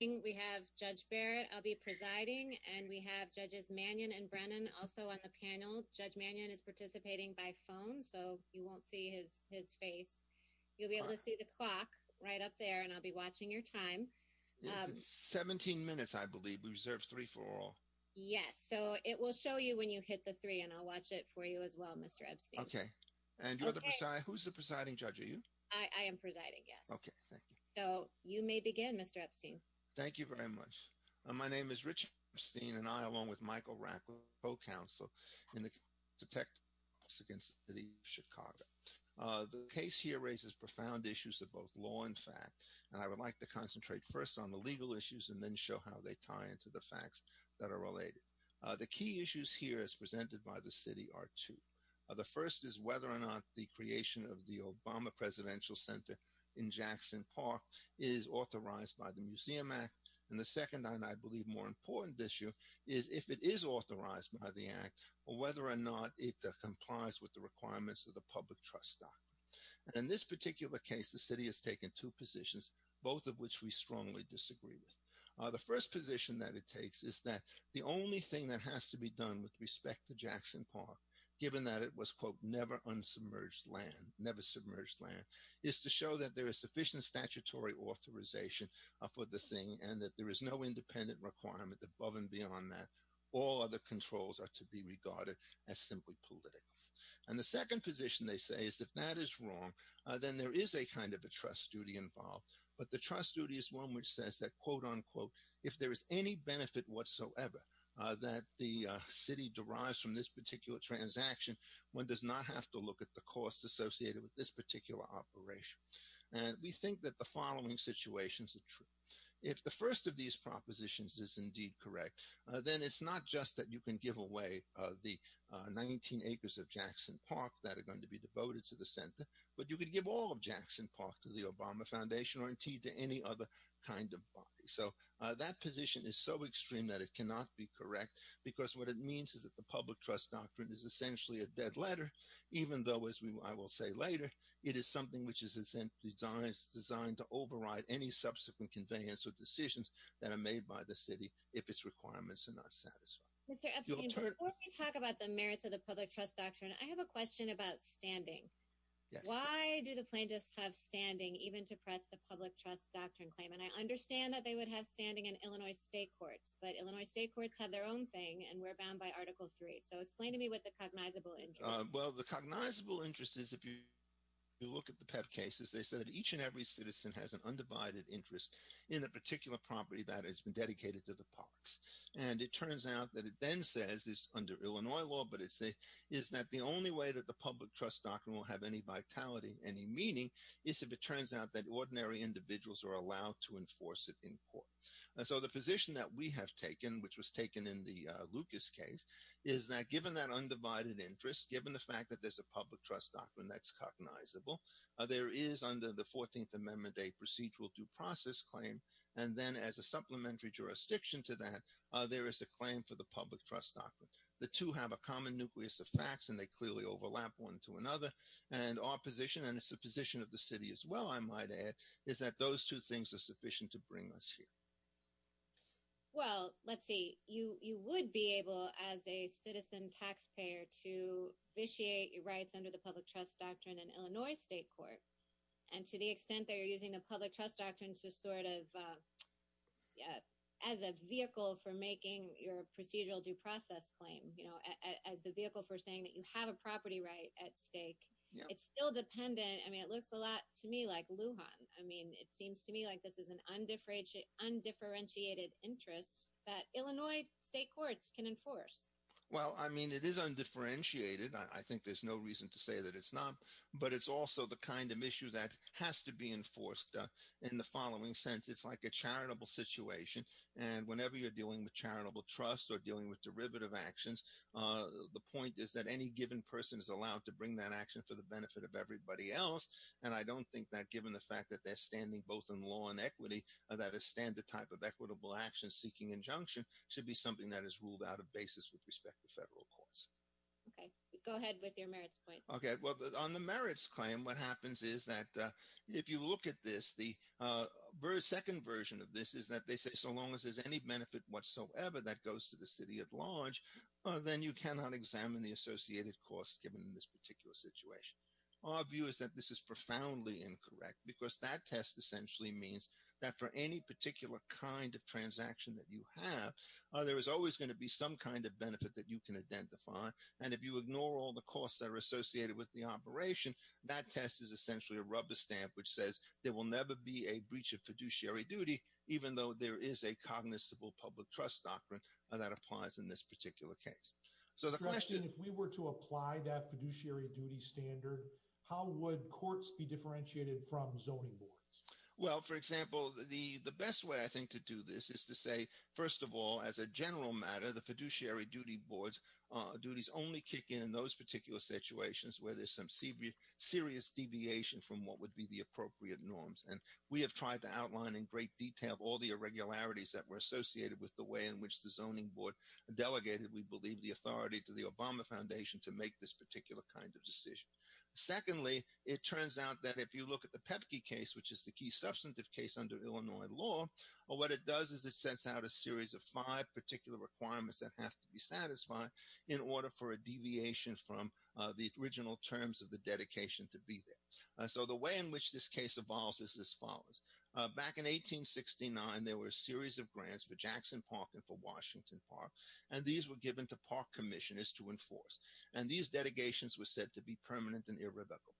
We have Judge Barrett. I'll be presiding and we have Judges Mannion and Brennan also on the panel. Judge Mannion is participating by phone so you won't see his his face. You'll be able to see the clock right up there and I'll be watching your time. It's 17 minutes I believe. We reserve three for all. Yes, so it will show you when you hit the three and I'll watch it for you as well, Mr. Epstein. Okay. And you're the preside. Who's the presiding judge? Are you? I am presiding, yes. Okay, thank you. So you may begin, Mr. Epstein. Thank you very much. My name is Richard Epstein and I, along with Michael Rackle, co-counsel in the detectives against the city of Chicago. The case here raises profound issues of both law and fact and I would like to concentrate first on the legal issues and then show how they tie into the facts that are related. The key issues here as presented by the city are two. The first is whether or not the creation of the Obama Presidential Center in Jackson Park is authorized by the Museum Act and the second and I believe more important issue is if it is authorized by the Act or whether or not it complies with the requirements of the Public Trust Doctrine. In this particular case, the city has taken two positions, both of which we strongly disagree with. The first position that it takes is that the only thing that has to be done with respect to Jackson Park, given that it was quote never unsubmerged land, never submerged land, is to show that there is sufficient statutory authorization for the thing and that there is no independent requirement above and beyond that. All other controls are to be regarded as simply political. And the second position they say is if that is wrong then there is a kind of a trust duty involved but the trust duty is one which says that quote unquote if there is any benefit whatsoever that the look at the costs associated with this particular operation. And we think that the following situations are true. If the first of these propositions is indeed correct then it's not just that you can give away the 19 acres of Jackson Park that are going to be devoted to the center but you could give all of Jackson Park to the Obama Foundation or indeed to any other kind of body. So that position is so extreme that it cannot be correct because what it means is that the Public Trust Doctrine is not a standard. Even though as I will say later it is something which is essentially designed to override any subsequent conveyance or decisions that are made by the city if its requirements are not satisfied. Mr. Epstein, before we talk about the merits of the Public Trust Doctrine I have a question about standing. Why do the plaintiffs have standing even to press the Public Trust Doctrine claim and I understand that they would have standing in Illinois state courts but Illinois state courts have their own thing and we're bound by article three so explain to me what the cognizable interest is. Well the cognizable interest is if you look at the PEP cases they said that each and every citizen has an undivided interest in a particular property that has been dedicated to the parks and it turns out that it then says is under Illinois law but it says is that the only way that the Public Trust Doctrine will have any vitality any meaning is if it turns out that ordinary individuals are allowed to enforce it in court. So the position that we have taken which was taken in the Lucas case is that given that undivided interest given the fact that there's a Public Trust Doctrine that's cognizable there is under the 14th amendment a procedural due process claim and then as a supplementary jurisdiction to that there is a claim for the Public Trust Doctrine. The two have a common nucleus of facts and they clearly overlap one to another and our position and it's the position of the city as well I might add is that those two things are sufficient to bring us here. Well let's see you you would be able as a citizen taxpayer to vitiate your rights under the Public Trust Doctrine in Illinois state court and to the extent that you're using the Public Trust Doctrine to sort of as a vehicle for making your procedural due process claim you know as the vehicle for saying that you have a property right at stake it's still dependent I mean it looks a lot to me like Lujan I mean it seems to me like this is an undifferentiated interest that Illinois state courts can enforce. Well I mean it is undifferentiated I think there's no reason to say that it's not but it's also the kind of issue that has to be enforced in the following sense it's like a charitable situation and whenever you're dealing with charitable trust or dealing with derivative actions the point is that any given person is allowed to bring that action for the benefit of everybody else and I don't think that given the fact that they're standing both in law and equity that a standard type of equitable action seeking injunction should be something that is ruled out of basis with respect to federal courts. Okay go ahead with your merits point. Okay well on the merits claim what happens is that if you look at this the second version of this is that they say so long as there's any benefit whatsoever that goes to the city at large then you cannot examine the associated costs given in this particular situation. Our view is that this is profoundly incorrect because that test essentially means that for any particular kind of transaction that you have there is always going to be some kind of benefit that you can identify and if you ignore all the costs that are associated with the operation that test is essentially a rubber stamp which says there will never be a breach of fiduciary duty even though there is a cognizable public trust doctrine that applies in this particular case. So the question if we were to apply that standard how would courts be differentiated from zoning boards? Well for example the the best way I think to do this is to say first of all as a general matter the fiduciary duty boards uh duties only kick in in those particular situations where there's some serious deviation from what would be the appropriate norms and we have tried to outline in great detail all the irregularities that were associated with the way in which the zoning board delegated we believe the authority to the Obama Foundation to make this particular kind of decision. Secondly it turns out that if you look at the Pepke case which is the key substantive case under Illinois law what it does is it sets out a series of five particular requirements that have to be satisfied in order for a deviation from the original terms of the dedication to be there. So the way in which this case evolves is as follows. Back in 1869 there were a series of grants for Jackson Park and for Washington Park and these were given to park commissioners to enforce and these dedications were said to be permanent and irrevocable.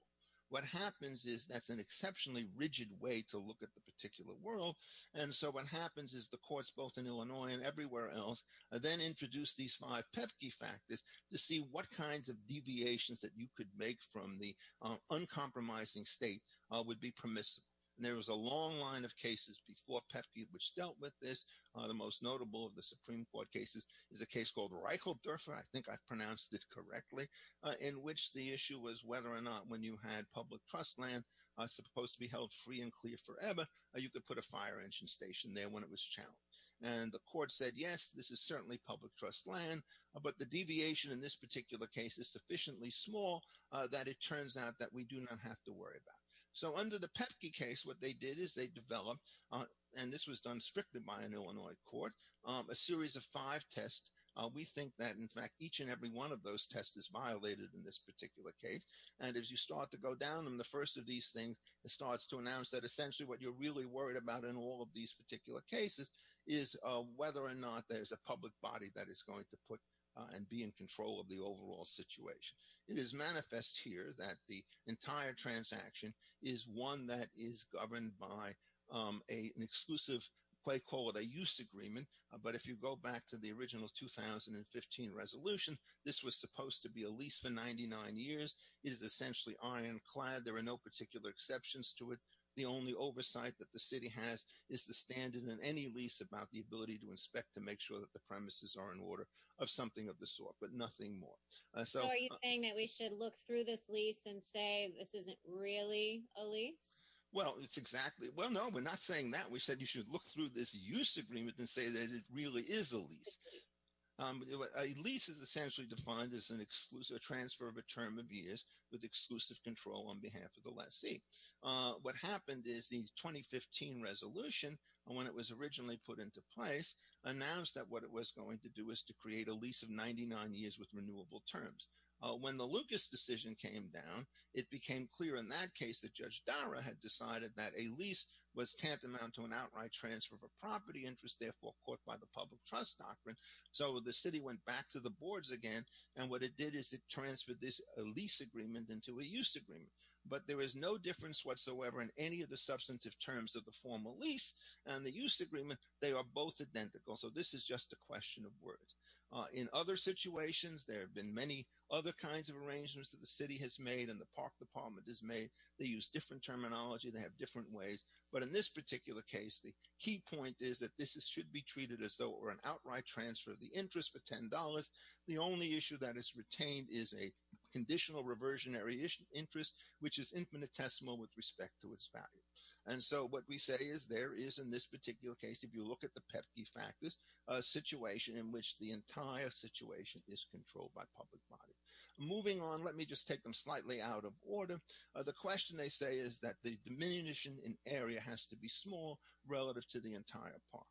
What happens is that's an exceptionally rigid way to look at the particular world and so what happens is the courts both in Illinois and everywhere else then introduce these five Pepke factors to see what kinds of deviations that you could make from the uncompromising state would be permissible. There was a long line of cases before Pepke which dealt with this the most notable of the Supreme Court cases is a case called Reicheld Durfer I think I've pronounced it correctly in which the issue was whether or not when you had public trust land are supposed to be held free and clear forever you could put a fire engine station there when it was challenged and the court said yes this is certainly public trust land but the deviation in this particular case is sufficiently small that it turns out that we do not have to worry about. So under the Pepke case what they did is they developed and this was done strictly by an Illinois court a series of five tests we think that in fact each and every one of those tests is violated in this particular case and as you start to go down them the first of these things it starts to announce that essentially what you're really worried about in all of these particular cases is whether or not there's a public body that is going to put and be in control of the overall situation. It is manifest here that the a an exclusive quite call it a use agreement but if you go back to the original 2015 resolution this was supposed to be a lease for 99 years it is essentially ironclad there are no particular exceptions to it the only oversight that the city has is the standard in any lease about the ability to inspect to make sure that the premises are in order of something of the sort but nothing more. So are you saying that we should look through this lease and say this isn't really a lease? Well it's exactly well no we're not saying that we said you should look through this use agreement and say that it really is a lease. A lease is essentially defined as an exclusive transfer of a term of years with exclusive control on behalf of the lessee. What happened is the 2015 resolution when it was originally put into place announced that what it was going to do is to create a lease of 99 years with renewable terms. When the Lucas decision came down it became clear in that case that Judge Dara had decided that a lease was tantamount to an outright transfer of a property interest therefore caught by the public trust doctrine so the city went back to the boards again and what it did is it transferred this lease agreement into a use agreement but there is no difference whatsoever in any of the substantive terms of the formal lease and the use agreement they are both identical so this is just a question of words. In other situations there have been many other kinds of arrangements that the city has made and the park department has made they use different terminology they have different ways but in this particular case the key point is that this should be treated as though or an outright transfer of the interest for ten dollars the only issue that is retained is a conditional reversionary interest which is infinitesimal with respect to its value and so what we say is there is in this particular case if you look at the entire situation is controlled by public body moving on let me just take them slightly out of order the question they say is that the diminution in area has to be small relative to the entire park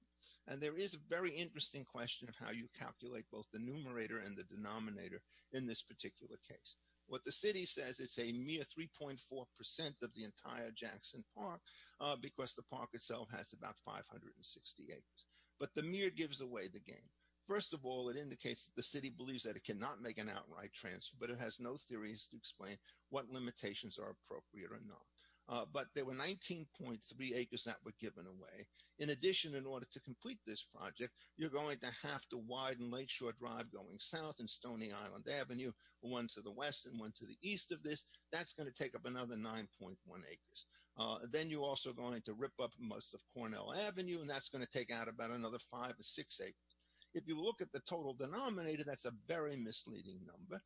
and there is a very interesting question of how you calculate both the numerator and the denominator in this particular case what the city says it's a mere 3.4 percent of the entire Jackson Park because the park itself has about 560 acres but the mirror gives away the game first of all it indicates that the city believes that it cannot make an outright transfer but it has no theories to explain what limitations are appropriate or not but there were 19.3 acres that were given away in addition in order to complete this project you're going to have to widen Lakeshore Drive going south and Stony Island Avenue one to the west and one to the east of this that's going to take up another 9.1 acres then you're also going to rip up most of Cornell Avenue and that's going to take out about another five or six acres if you look at the total denominator that's a very misleading number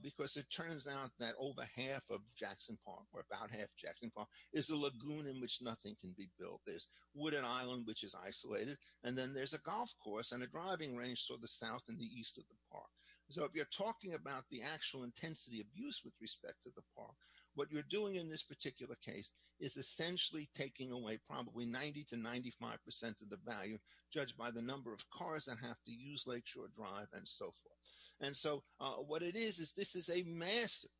because it turns out that over half of Jackson Park or about half Jackson Park is a lagoon in which nothing can be built there's Wooden Island which is isolated and then there's a golf course and a driving range to the south and the east of the park so if you're talking about the actual intensity of use with respect to the park what you're doing in this particular case is essentially taking away probably 90 to 95 percent of the value judged by the number of cars that have to use Lakeshore Drive and so forth and so what it is is this is a massive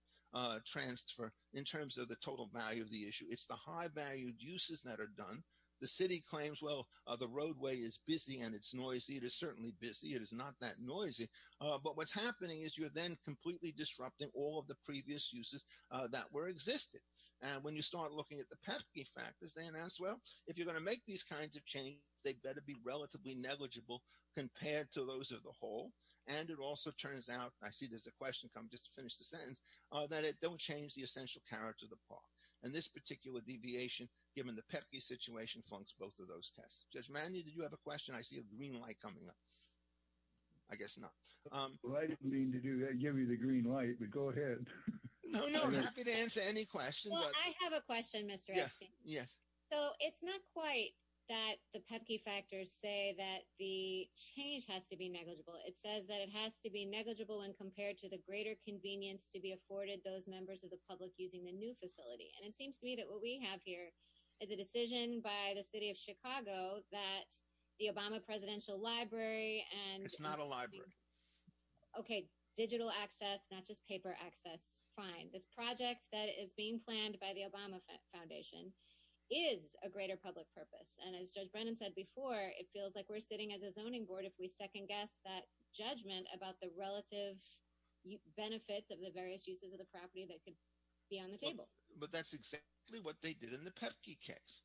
transfer in terms of the total value of the issue it's the high valued uses that are done the city claims well the roadway is busy and it's noisy it is certainly busy it is not that noisy but what's happening is you're then completely disrupting all of the previous uses that were existing and when you start looking at the pesky factors they are going to make these kinds of changes they better be relatively negligible compared to those of the whole and it also turns out I see there's a question come just to finish the sentence that it don't change the essential character of the park and this particular deviation given the pesky situation flunks both of those tests Judge Manley did you have a question I see a green light coming up I guess not well I didn't mean to do that give me the green light but go ahead I'm happy to answer any questions I have a question mr yes so it's not quite that the pepki factors say that the change has to be negligible it says that it has to be negligible when compared to the greater convenience to be afforded those members of the public using the new facility and it seems to me that what we have here is a decision by the city of Chicago that the Obama presidential library and it's not a library okay digital access not just paper access fine this project that is being planned by the Obama foundation is a greater public purpose and as Judge Brennan said before it feels like we're sitting as a zoning board if we second-guess that judgment about the relative benefits of the various uses of the property that could be on the table but that's exactly what they did in the pepki case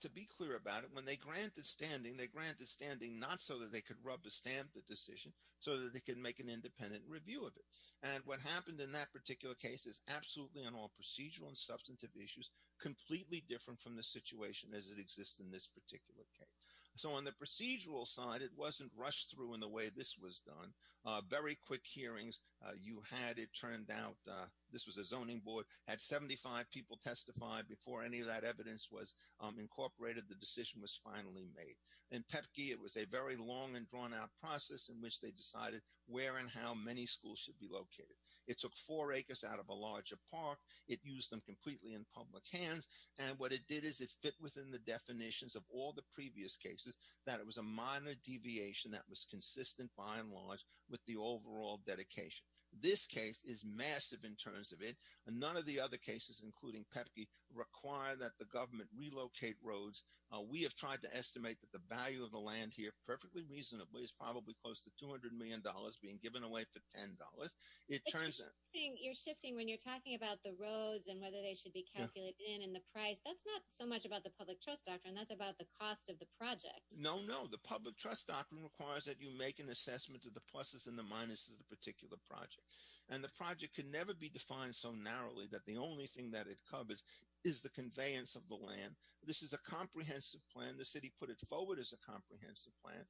to be clear about it when they grant the standing they grant the standing not so that they could rub the stamp the decision so that they can make an independent review of it and what happened in that particular case is absolutely on all procedural and substantive issues completely different from the situation as it exists in this particular case so on the procedural side it wasn't rushed through in the way this was done uh very quick hearings uh you had it turned out uh this was a zoning board had 75 people testified before any of that evidence was um incorporated the decision was finally made in pepki it was a very long and drawn out process in which they decided where and how many schools should be located it took four acres out of a larger park it used them completely in public hands and what it did is it fit within the definitions of all the previous cases that it was a minor deviation that was consistent by and large with the overall dedication this case is massive in terms of it none of the other cases including pepki require that the government relocate roads we have tried to estimate that the value of the land here perfectly reasonably is probably close to 200 million dollars being given away for ten dollars it turns out you're shifting when you're talking about the roads and whether they should be calculated in the price that's not so much about the public trust doctrine that's about the cost of the project no no the public trust doctrine requires that you make an assessment of the pluses and the minuses of the particular project and the project can never be defined so narrowly that the only thing that it covers is the conveyance of the land this is a comprehensive plan the city put it forward as a comprehensive plan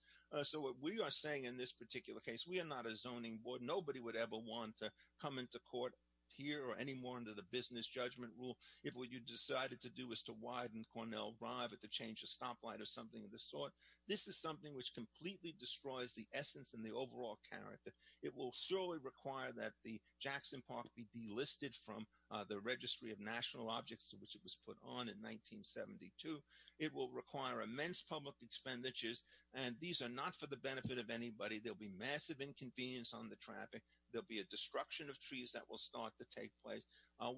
so what we are saying in this particular case we are not a zoning board nobody would ever want to come into court here or any more under the business judgment rule if what you decided to do is to widen cornell drive or to change the stoplight or something of the sort this is something which completely destroys the essence and the overall character it will surely require that the jackson park be delisted from the registry of national objects which it was put on in 1972 it will require immense public expenditures and these are not for the benefit of anybody there'll be massive inconvenience on the traffic there'll be a destruction of trees that will start to take place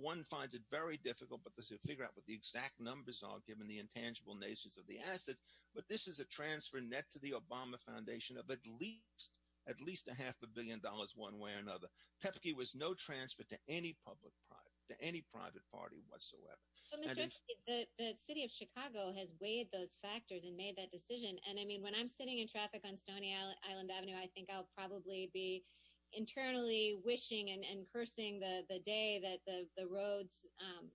one finds it very difficult but to figure out what the exact numbers are given the intangible nations of the assets but this is a transfer net to the obama foundation of at least at least a half a billion dollars one way or another pepke was no transfer to any public private to any private party whatsoever the city of chicago has weighed those factors and made that decision and i mean when i'm sitting in traffic on stony island avenue i think i'll probably be internally wishing and cursing the the day that the the roads um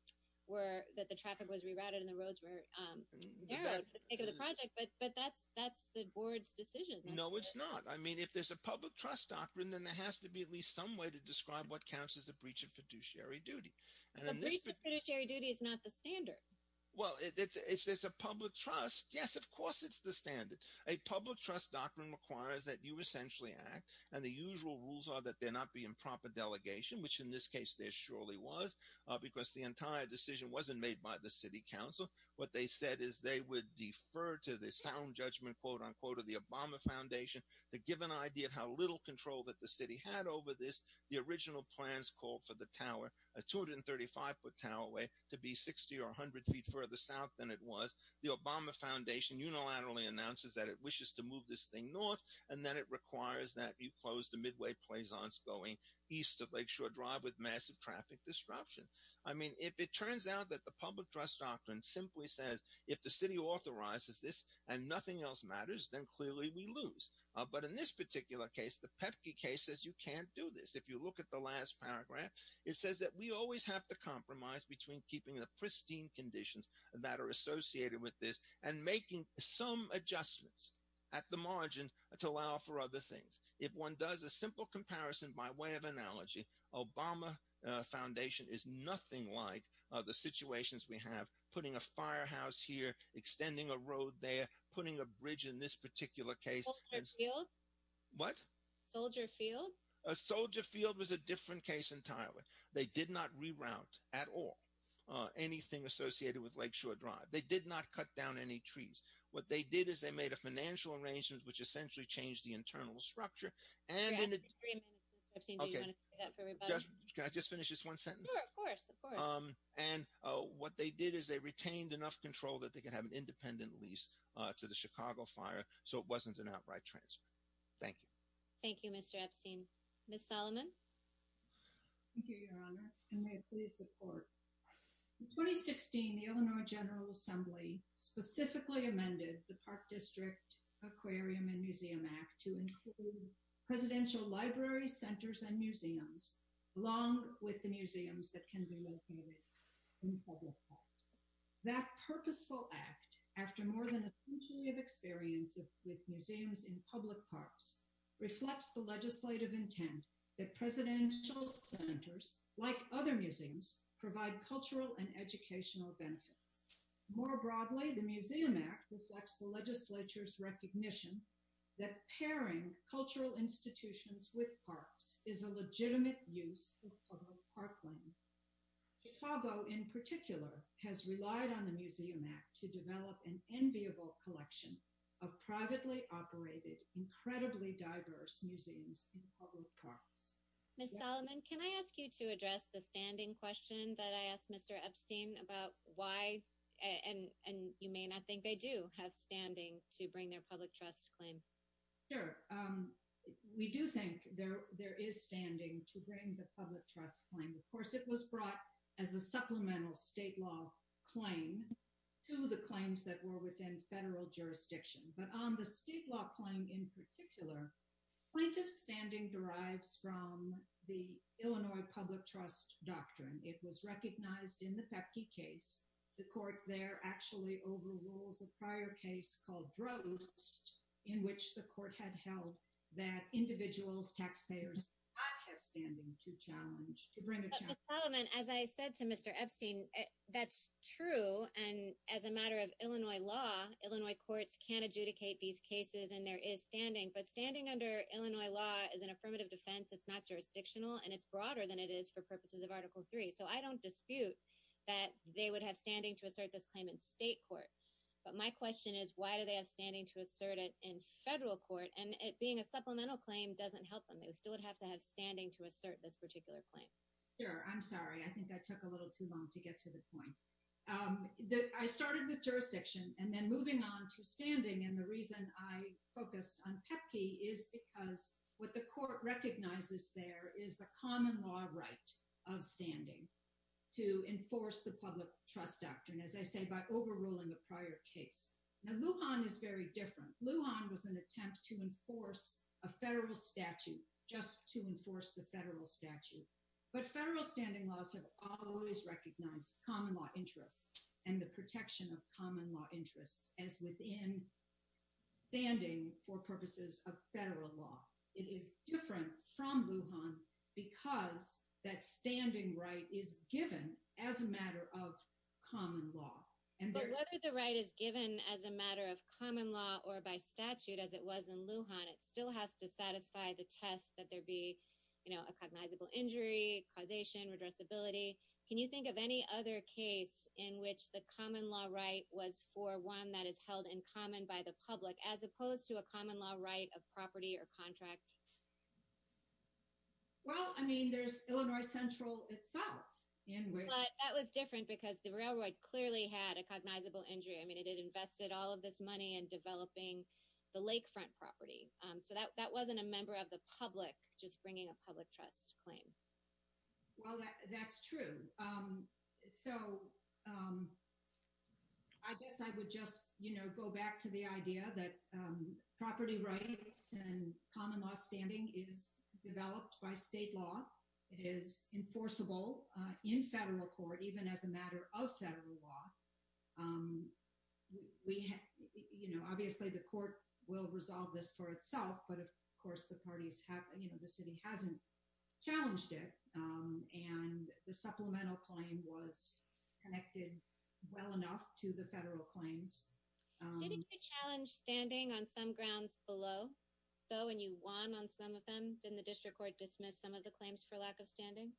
were that the traffic was rerouted and the roads were um narrowed for the sake of the project but but that's that's the board's decision no it's not i mean if there's a public trust doctrine then there has to be at least some way to describe what counts as a breach of fiduciary duty a breach of fiduciary duty is not the standard well if there's a public trust yes of course it's the standard a public trust doctrine requires that you essentially act and the usual rules are that there not be improper delegation which in this case there surely was because the entire decision wasn't made by the city council what they said is they would defer to the sound judgment quote-unquote of the obama foundation to give an idea of how little control that the city had over this the original plans called for the tower a 235 foot tower away to be 60 or 100 feet further south than it was the obama foundation unilaterally announces that it wishes to move this thing north and then it requires that you close the midway plazons going east of lakeshore drive with massive traffic disruption i mean if it turns out that the public trust doctrine simply says if the city authorizes this and nothing else matters then clearly we lose but in this particular case the pepki case says you can't do this if you look at the last paragraph it says that we always have to compromise between keeping the pristine conditions that are associated with this and making some adjustments at the margin to allow for other things if one does a simple comparison by way of analogy obama foundation is nothing like the situations we have putting a firehouse here extending a road there putting a bridge in this particular case what soldier field a soldier field was a different case entirely they did not reroute at all uh anything associated with lakeshore drive they did not cut down any trees what they did is they made a financial arrangement which essentially changed the internal structure and can i just finish this one sentence um and uh what they did is they retained enough control that they could have an fire so it wasn't an outright transfer thank you thank you mr epstein miss solomon thank you your honor and may it please support in 2016 the illinois general assembly specifically amended the park district aquarium and museum act to include presidential library centers and museums along with the museums that can be located in public parks that purposeful act after more than a century of experience with museums in public parks reflects the legislative intent that presidential centers like other museums provide cultural and educational benefits more broadly the museum act reflects the legislature's recognition that pairing cultural institutions with parks is a legitimate use of public parkland chicago in particular has relied on the museum act to develop an enviable collection of privately operated incredibly diverse museums in public parks miss solomon can i ask you to address the standing question that i asked mr epstein about why and and you may not think they do have standing to bring their public trust claim sure um we do think there there is standing to bring the public trust claim of course it was brought as a supplemental state law claim to the claims that were within federal jurisdiction but on the state law claim in particular plaintiff's standing derives from the illinois public trust doctrine it was recognized in the pepki case the court there actually overrules a prior case called droves in which the court had held that individuals taxpayers not have standing to challenge to bring the parliament as i said to mr epstein that's true and as a matter of illinois law illinois courts can't adjudicate these cases and there is standing but standing under illinois law is an affirmative defense it's not jurisdictional and it's broader than it is for purposes of article 3 so i don't dispute that they would have standing to assert this claim in state court but my question is why do they have standing to assert it in federal court and it being a supplemental claim doesn't help them still would have to have standing to assert this particular claim sure i'm sorry i think i took a little too long to get to the point um that i started with jurisdiction and then moving on to standing and the reason i focused on pepki is because what the court recognizes there is a common law right of standing to enforce the public trust doctrine as i say by overruling a prior case now luhan is very different luhan was an attempt to enforce a federal statute just to enforce the federal statute but federal standing laws have always recognized common law interests and the protection of common law interests as within standing for purposes of federal law it is different from luhan because that standing right is given as a matter of common law and whether the right is given as a matter of common law or by statute as it was in luhan it's still has to satisfy the test that there be you know a cognizable injury causation redressability can you think of any other case in which the common law right was for one that is held in common by the public as opposed to a common law right of property or contract well i mean there's illinois central itself but that was different because the railroad clearly had a cognizable injury i mean it invested all of this money in developing the lakefront property um so that that wasn't a member of the public just bringing a public trust claim well that that's true um so um i guess i would just you know go back to the idea that um property rights and common law standing is developed by state law it is enforceable uh in federal court even as a matter of federal law um we you know obviously the court will resolve this for itself but of course the parties have you know the city hasn't challenged it um and the supplemental claim was connected well enough to the federal claims did it be challenged standing on some grounds below though and you won on some of them didn't the district court dismiss some of the claims for lack of standing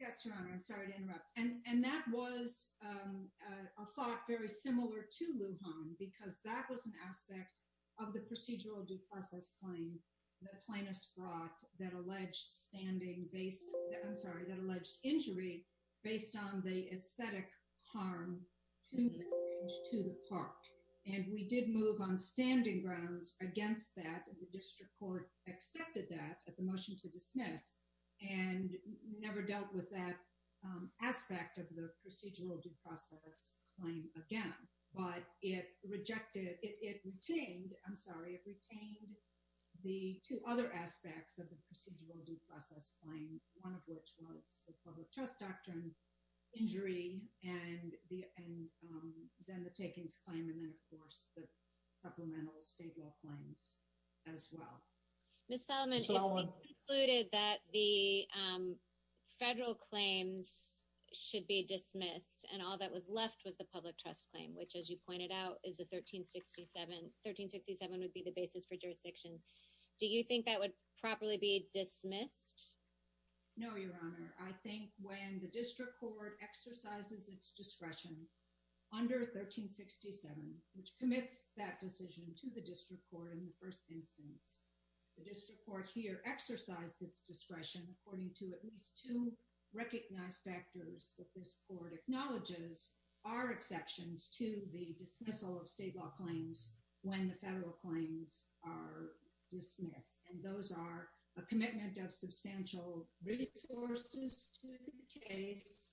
yes your honor i'm sorry to interrupt and and that was um a thought very similar to lujan because that was an aspect of the procedural due process claim the plaintiffs brought that alleged standing based i'm sorry that alleged injury based on the aesthetic harm to the park and we did move on standing grounds against that the district court accepted that at the motion to dismiss and never dealt with that um aspect of the procedural due process claim again but it rejected it retained i'm sorry it retained the two other aspects of the procedural due process claim one of which was the public trust doctrine injury and the and um then the takings claim and then of course the supplemental state law claims as well miss solomon concluded that the um federal claims should be dismissed and all that was left was the public trust claim which as you pointed out is a 1367 1367 would be the basis for jurisdiction do you think that would properly be dismissed no your honor i think when the district court exercises its discretion under 1367 which commits that decision to the district court in the first instance the district court here exercised its discretion according to at least two recognized factors that this court acknowledges are exceptions to the dismissal of state law claims when the federal claims are dismissed and those are a commitment of substantial resources to the case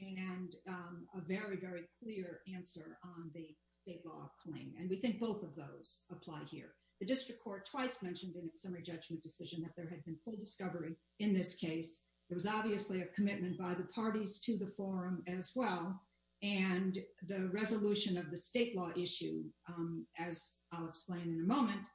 and um a very very clear answer on the state law claim and we think both of those apply here the district court twice mentioned in its summary judgment decision that there had been full discovery in this case there was obviously a commitment by the parties to the forum as well and the resolution of the state law issue um as i'll explain in a moment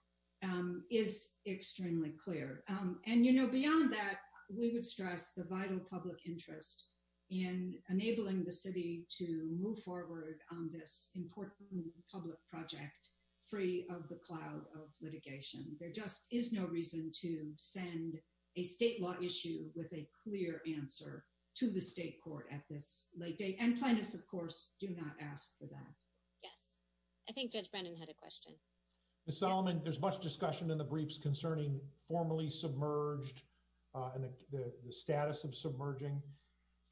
um is extremely clear um and you know beyond that we would stress the vital public interest in enabling the city to move forward on this important public project free of the cloud of litigation there just is no reason to send a state law issue with a clear answer to the state court at this late date and plaintiffs of course do not ask for that yes i think judge brennan had a question miss solomon there's much discussion in the briefs concerning formally submerged uh and the the status of submerging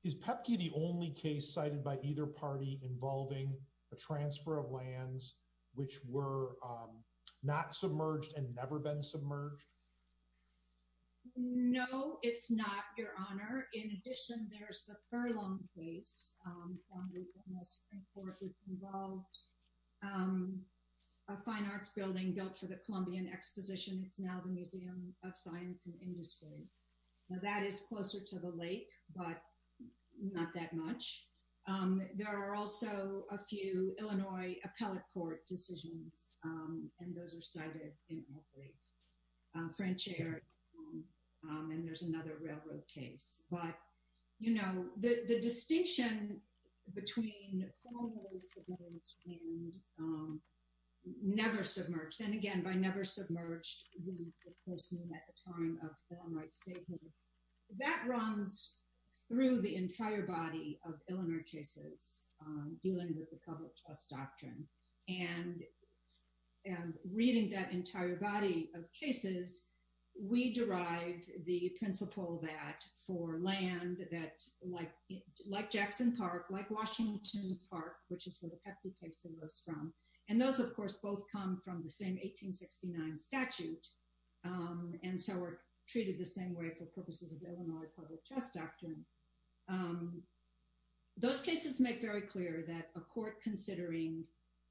is pepke the only case cited by either party involving a transfer of lands which were um not submerged and never been submerged no it's not your honor in addition there's the furlong case um um a fine arts building built for the columbian exposition it's now the museum of science and industry now that is closer to the lake but not that much um there are also a few illinois appellate court decisions um and those are cited in our briefs uh french air and there's another railroad case but you know the the distinction between formally submerged and um never submerged and again by never submerged we of course mean at the time of illinois statehood that runs through the entire body of illinois cases um dealing with the public trust doctrine and and reading that entire body of cases we derive the principle that for land that like like jackson park like washington park which is where the pepke case arose from and those of course both come from the same 1869 statute um and so we're treated the same way for purposes of illinois public trust doctrine um those cases make very clear that a court considering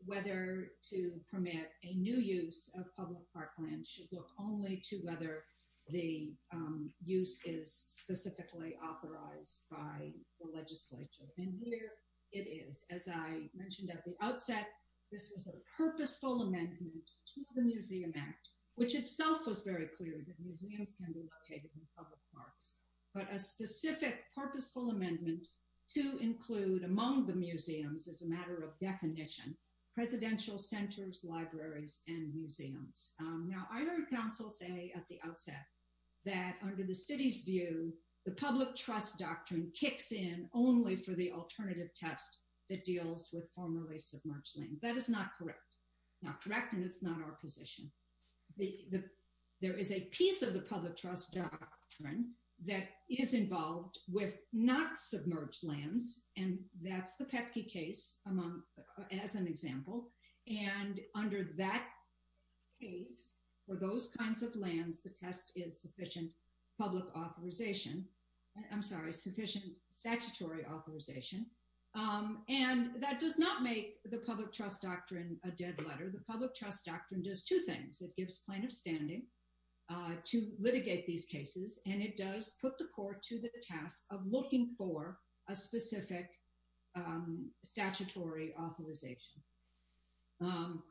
whether to permit a new use of public park land should look only to whether the um use is specifically authorized by the legislature and here it is as i mentioned at the outset this was a purposeful amendment to the museum act which itself was very clear that museums can be located in public parks but a specific purposeful amendment to include among the museums as a matter of definition presidential centers libraries and museums um now i heard counsel say at the outset that under the city's view the public trust doctrine kicks in only for the alternative test that deals with formerly submerged land that is not correct not correct and it's not our position the the there is a piece of the public trust doctrine that is involved with not submerged lands and that's the pepke case among as an example and under that case for those kinds of lands the test is sufficient public authorization i'm sorry sufficient statutory authorization um and that does not make the public trust doctrine a dead letter the public trust doctrine does two things it gives plaintiff standing uh to litigate these cases and it does put the court to the task of looking for a specific statutory authorization um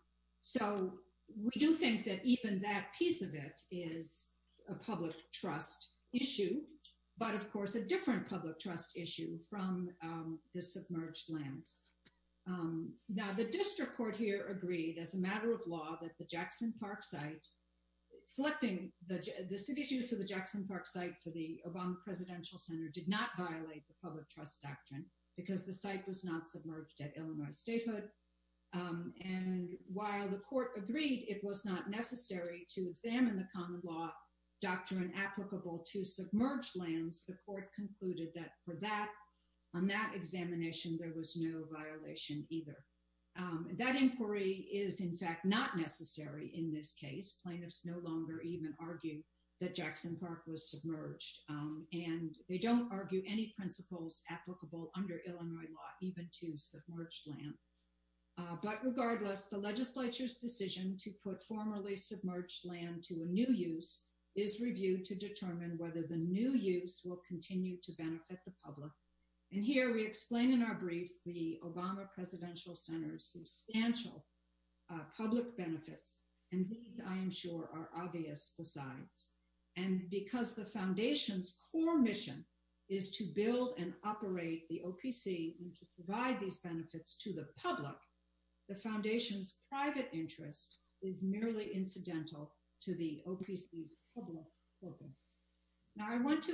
so we do think that even that piece of it is a public trust issue but of course a different public trust issue from the submerged lands now the district court here agreed as a matter of law that the jackson park site selecting the the city's use of the jackson park site for the obama presidential center did not violate the public trust doctrine because the site was not submerged at illinois statehood um and while the court agreed it was not necessary to examine the common law doctrine applicable to submerged lands the court concluded that for that on that examination there was no violation either that inquiry is in fact not necessary in this case plaintiffs no longer even argue that jackson park was submerged and they don't argue any principles applicable under illinois law even to submerged land but regardless the legislature's decision to put formerly submerged land to a new use is reviewed to determine whether the new use will continue to benefit the public and here we explain in our brief the obama presidential center's substantial public benefits and these i am sure are obvious besides and because the foundation's core mission is to build and operate the opc and to provide these benefits to the public the foundation's private interest is merely incidental to the opc's public focus now i want to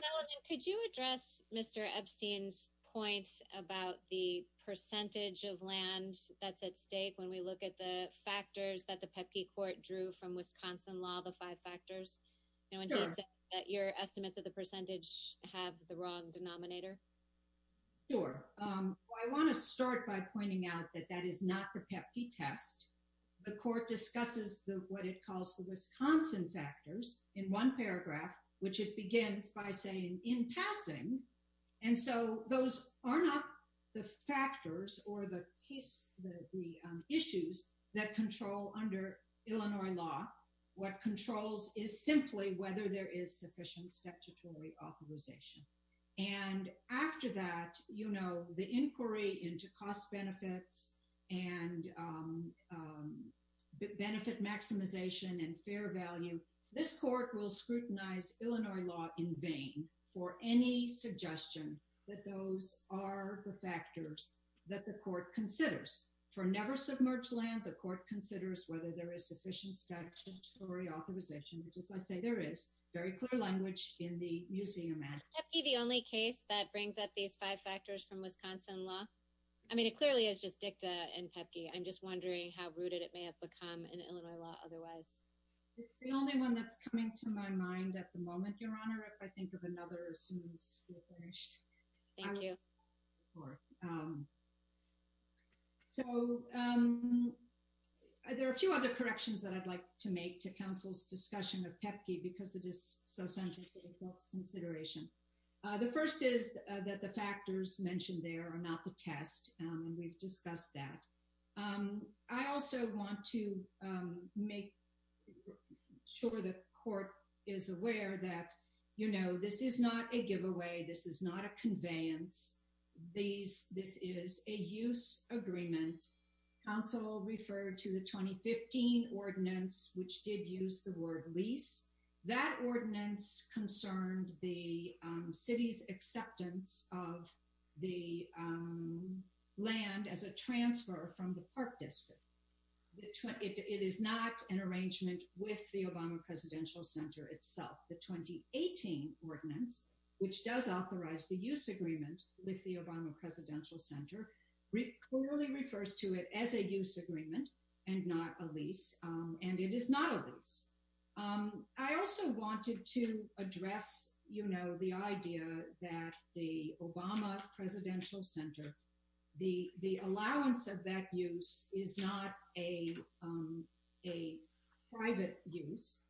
could you address mr epstein's point about the percentage of land that's at stake when we look at the factors that the pepki court drew from wisconsin law the five factors you know that your estimates of the percentage have the wrong denominator sure um i want to start by pointing out that that is not the pepki test the court discusses the what it calls the wisconsin factors in one paragraph which it begins by saying in passing and so those are not the factors or the case the issues that control under illinois law what controls is simply whether there is sufficient statutory authorization and after that you know the inquiry into cost benefits and um benefit maximization and fair value this court will scrutinize illinois law in vain for any suggestion that those are the factors that the court considers for never authorization which is i say there is very clear language in the museum act the only case that brings up these five factors from wisconsin law i mean it clearly is just dicta and pepki i'm just wondering how rooted it may have become in illinois law otherwise it's the only one that's coming to my mind at the moment your honor if i think of another as soon as we're finished thank you or um so um there are a few other corrections that i'd like to make to council's discussion of pepki because it is so central to adults consideration uh the first is that the factors mentioned there are not the test and we've discussed that um i also want to um make sure the court is aware that you know this is not a these this is a use agreement council referred to the 2015 ordinance which did use the word lease that ordinance concerned the city's acceptance of the um land as a transfer from the park district it is not an arrangement with the obama presidential center itself the 2018 ordinance which does authorize the use agreement with the obama presidential center clearly refers to it as a use agreement and not a lease and it is not a lease um i also wanted to address you know the idea that the obama presidential center the the allowance of that use is not a um a private use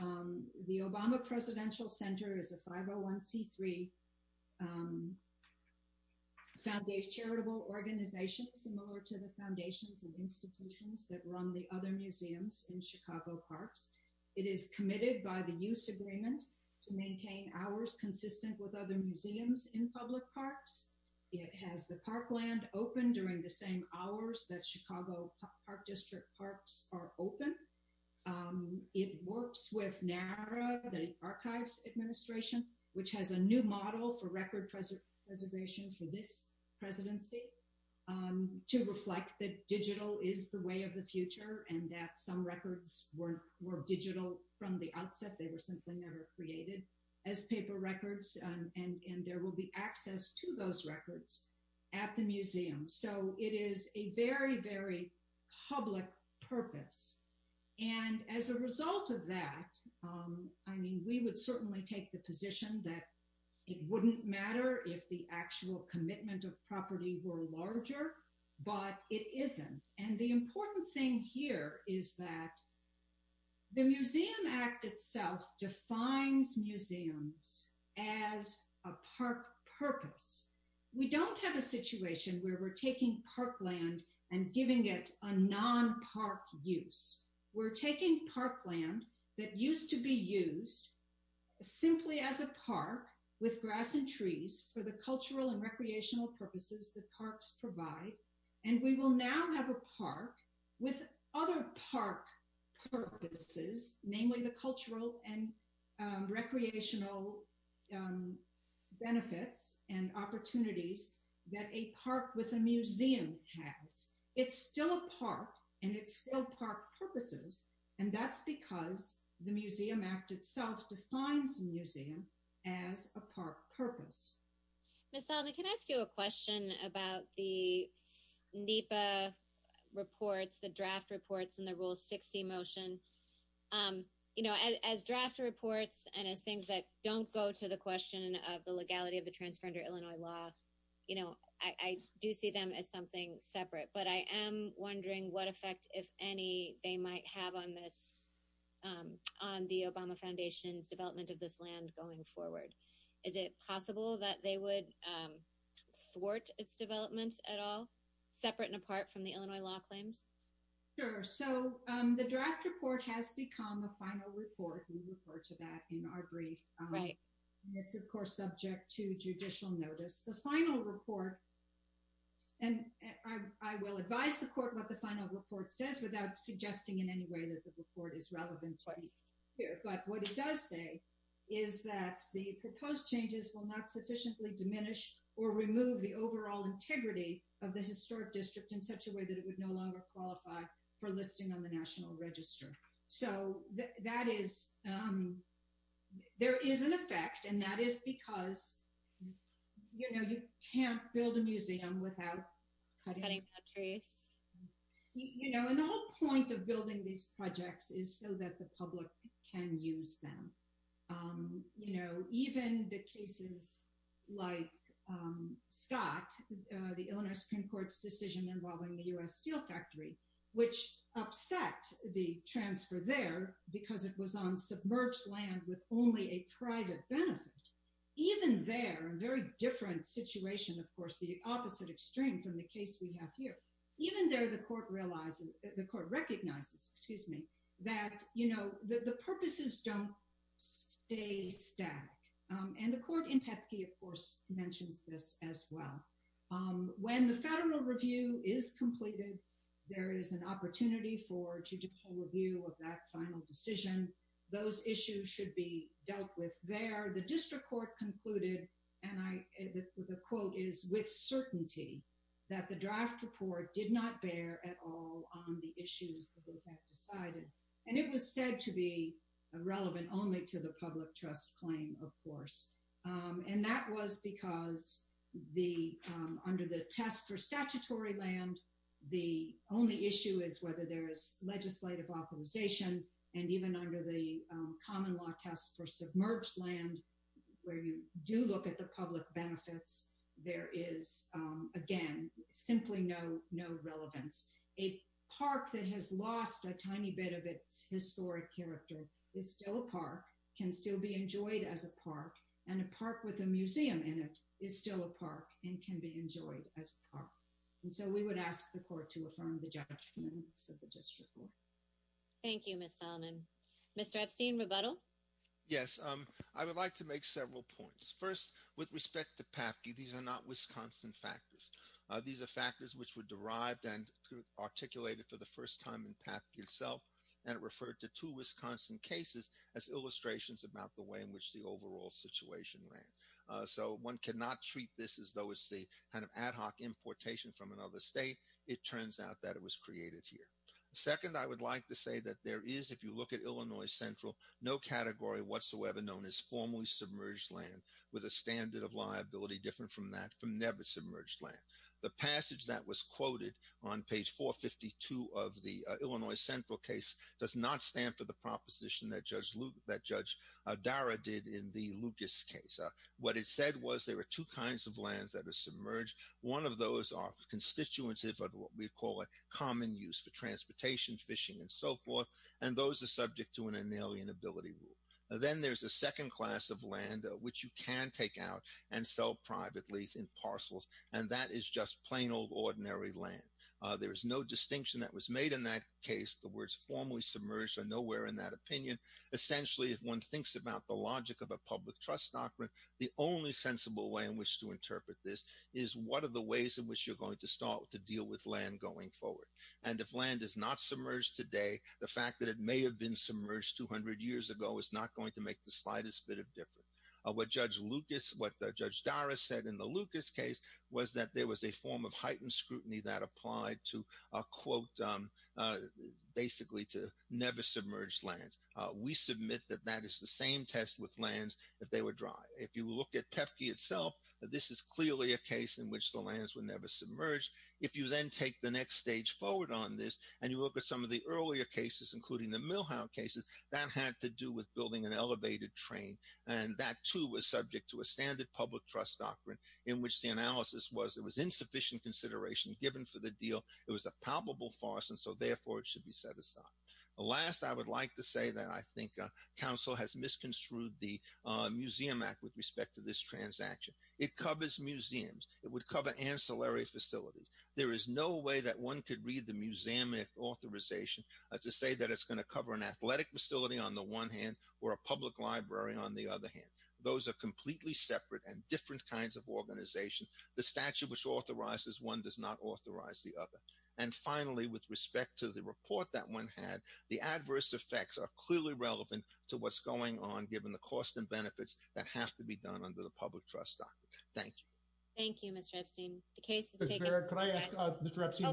um the obama presidential center is a 501c3 um found a charitable organization similar to the foundations and institutions that run the other museums in chicago parks it is committed by the use agreement to maintain hours consistent with other museums in public parks it has the parkland open during the same hours that chicago park district parks are open um it works with nara the archives administration which has a new model for record preservation for this presidency um to reflect that digital is the way of the future and that some records were were digital from the outset they were simply never created as paper records and and there will be access to those records at the museum so it is a very very public purpose and as a result of that um i mean we would certainly take the position that it wouldn't matter if the actual commitment of property were larger but it isn't and the important thing here is that the museum act itself defines museums as a park purpose we don't have a situation where we're taking parkland and giving it a non-park use we're taking parkland that used to be used simply as a park with grass and trees for the cultural and recreational purposes that parks provide and we will now have a park with other park purposes namely the cultural and recreational um benefits and opportunities that a park with a museum has it's still a park and it's still purposes and that's because the museum act itself defines museum as a park purpose miss salami can i ask you a question about the nipa reports the draft reports and the rule 60 motion um you know as draft reports and as things that don't go to the question of the legality of the transfer under illinois law you know i i do see them as something separate but i am wondering what effect if any they might have on this um on the obama foundation's development of this land going forward is it possible that they would um thwart its development at all separate and apart from the illinois law claims sure so um the draft report has become a final report we refer to that in our brief right it's of course subject to judicial notice the final report and i will advise the court what the final report says without suggesting in any way that the report is relevant but what it does say is that the proposed changes will not sufficiently diminish or remove the overall integrity of the historic district in such a way that it would no longer qualify for listing on the national register so that is um there is an effect and that is because you know you can't build a museum without cutting trees you know and the whole point of building these projects is so that the public can use them um you know even the cases like um scott uh the illinois supreme court's decision involving the u.s steel factory which upset the transfer there because it was on submerged land with only a private benefit even there a very different situation of course the opposite extreme from the case we have here even there the court realizes the court recognizes excuse me that you know the purposes don't stay static um and the court in pepke of course mentions this as well um when the federal review is completed there is an opportunity for judicial review of that final decision those issues should be dealt with there the district court concluded and i the quote is with certainty that the draft report did not bear at all on the issues that have decided and it was said to be relevant only to the public trust claim of course and that was because the um under the test for statutory land the only issue is whether there is legislative authorization and even under the common law test for submerged land where you do look at the public benefits there is um again simply no no relevance a park that has lost a tiny bit of its historic character is still a park can still be enjoyed as a park and a park with a museum in it is still a park and can be enjoyed as a park and so we would ask the court to affirm the judgments of the district court thank you miss solomon mr epstein rebuttal yes um i would like to make several points first with respect to pepke these are not wisconsin factors these are factors which were derived and articulated for the first time in pepke itself and it referred to two wisconsin cases as illustrations about the way in which the overall situation ran so one cannot treat this as though it's the kind of ad hoc importation from another state it turns out that it was created here second i would like to say that there is if you look at illinois central no category whatsoever known as formally submerged land with a standard of liability different from that from never submerged land the passage that was quoted on page 452 of the illinois central case does not stand for the proposition that judge luke that judge dara did in the lucas case what it said was there were two kinds of lands that are submerged one of those are constitutive of what we common use for transportation fishing and so forth and those are subject to an alien ability rule then there's a second class of land which you can take out and sell privately in parcels and that is just plain old ordinary land there is no distinction that was made in that case the words formally submerged are nowhere in that opinion essentially if one thinks about the logic of a public trust doctrine the only sensible way in which to interpret this is what are the ways in which you're going to start to deal with land going forward and if land is not submerged today the fact that it may have been submerged 200 years ago is not going to make the slightest bit of difference what judge lucas what judge dara said in the lucas case was that there was a form of heightened scrutiny that applied to a quote um basically to never submerged lands we submit that that is the same test with lands if they were dry if you look at pepki itself this is clearly a case in which the lands were never submerged if you then take the next stage forward on this and you look at some of the earlier cases including the millhound cases that had to do with building an elevated train and that too was subject to a standard public trust doctrine in which the analysis was it was insufficient consideration given for the deal it was a palpable farce and so therefore it should be set aside last i would like to say that i think council has misconstrued the museum act with respect to this transaction it covers museums it would cover ancillary facilities there is no way that one could read the museum authorization to say that it's going to cover an athletic facility on the one hand or a public library on the other hand those are completely separate and different kinds of organization the statute which authorizes one does not authorize the other and finally with respect to the report that one had the adverse effects are clearly relevant to what's going on given the cost and benefits that have to be done under the public trust doctrine thank you thank you mr epstein the case can i ask mr epstein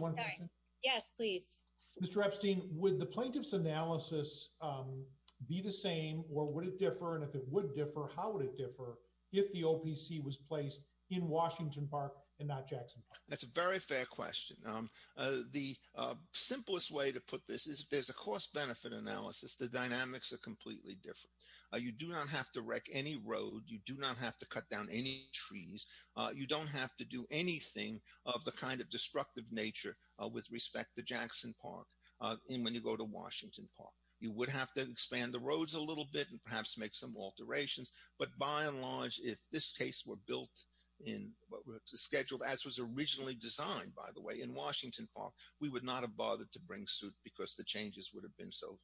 yes please mr epstein would the plaintiff's analysis um be the same or would it differ and if it would differ how would it differ if the opc was placed in washington park and not jackson park that's a very fair question um the uh simplest way to put this is if there's a cost benefit analysis the dynamics are completely different you do not have to wreck any road you do not have to cut down any trees you don't have to do anything of the kind of destructive nature with respect to jackson park uh and when you go to washington park you would have to expand the roads a little bit and perhaps make some alterations but by and large if this case were built in what was scheduled as was originally designed by the way in washington park we would not have bothered to bring suit because the changes would have been so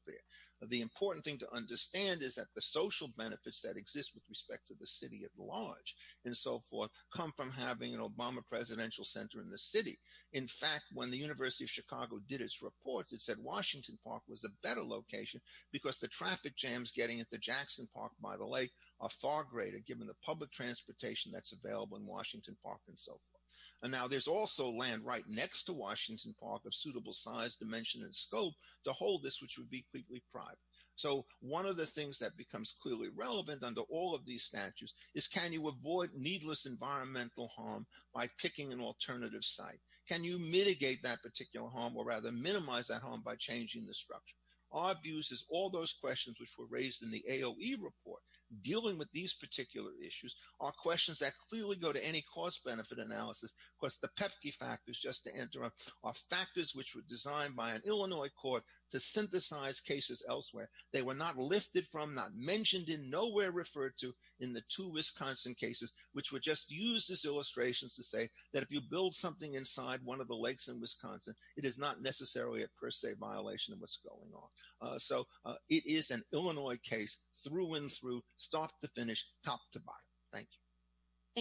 the important thing to understand is that the social benefits that exist with respect to the city at large and so forth come from having an obama presidential center in the city in fact when the university of chicago did its reports it said washington park was a better location because the traffic jams getting at the jackson park by the lake are far greater given the public transportation that's available in washington park and so forth and now there's also land right next to washington park of suitable size dimension and scope to hold this which would be completely private so one of the things that becomes clearly relevant under all of these statutes is can you avoid needless environmental harm by picking an alternative site can you mitigate that particular harm or rather minimize that harm by changing the structure our views is all those questions which were raised in the aoe report dealing with these particular issues are questions that clearly go to any cost benefit analysis because the pepki factors just to interrupt are factors which were to synthesize cases elsewhere they were not lifted from not mentioned in nowhere referred to in the two wisconsin cases which were just used as illustrations to say that if you build something inside one of the lakes in wisconsin it is not necessarily a per se violation of what's going on so it is an illinois case through and through start to finish top to bottom thank you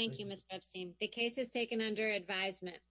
thank you miss pepstein the case is taken under advisement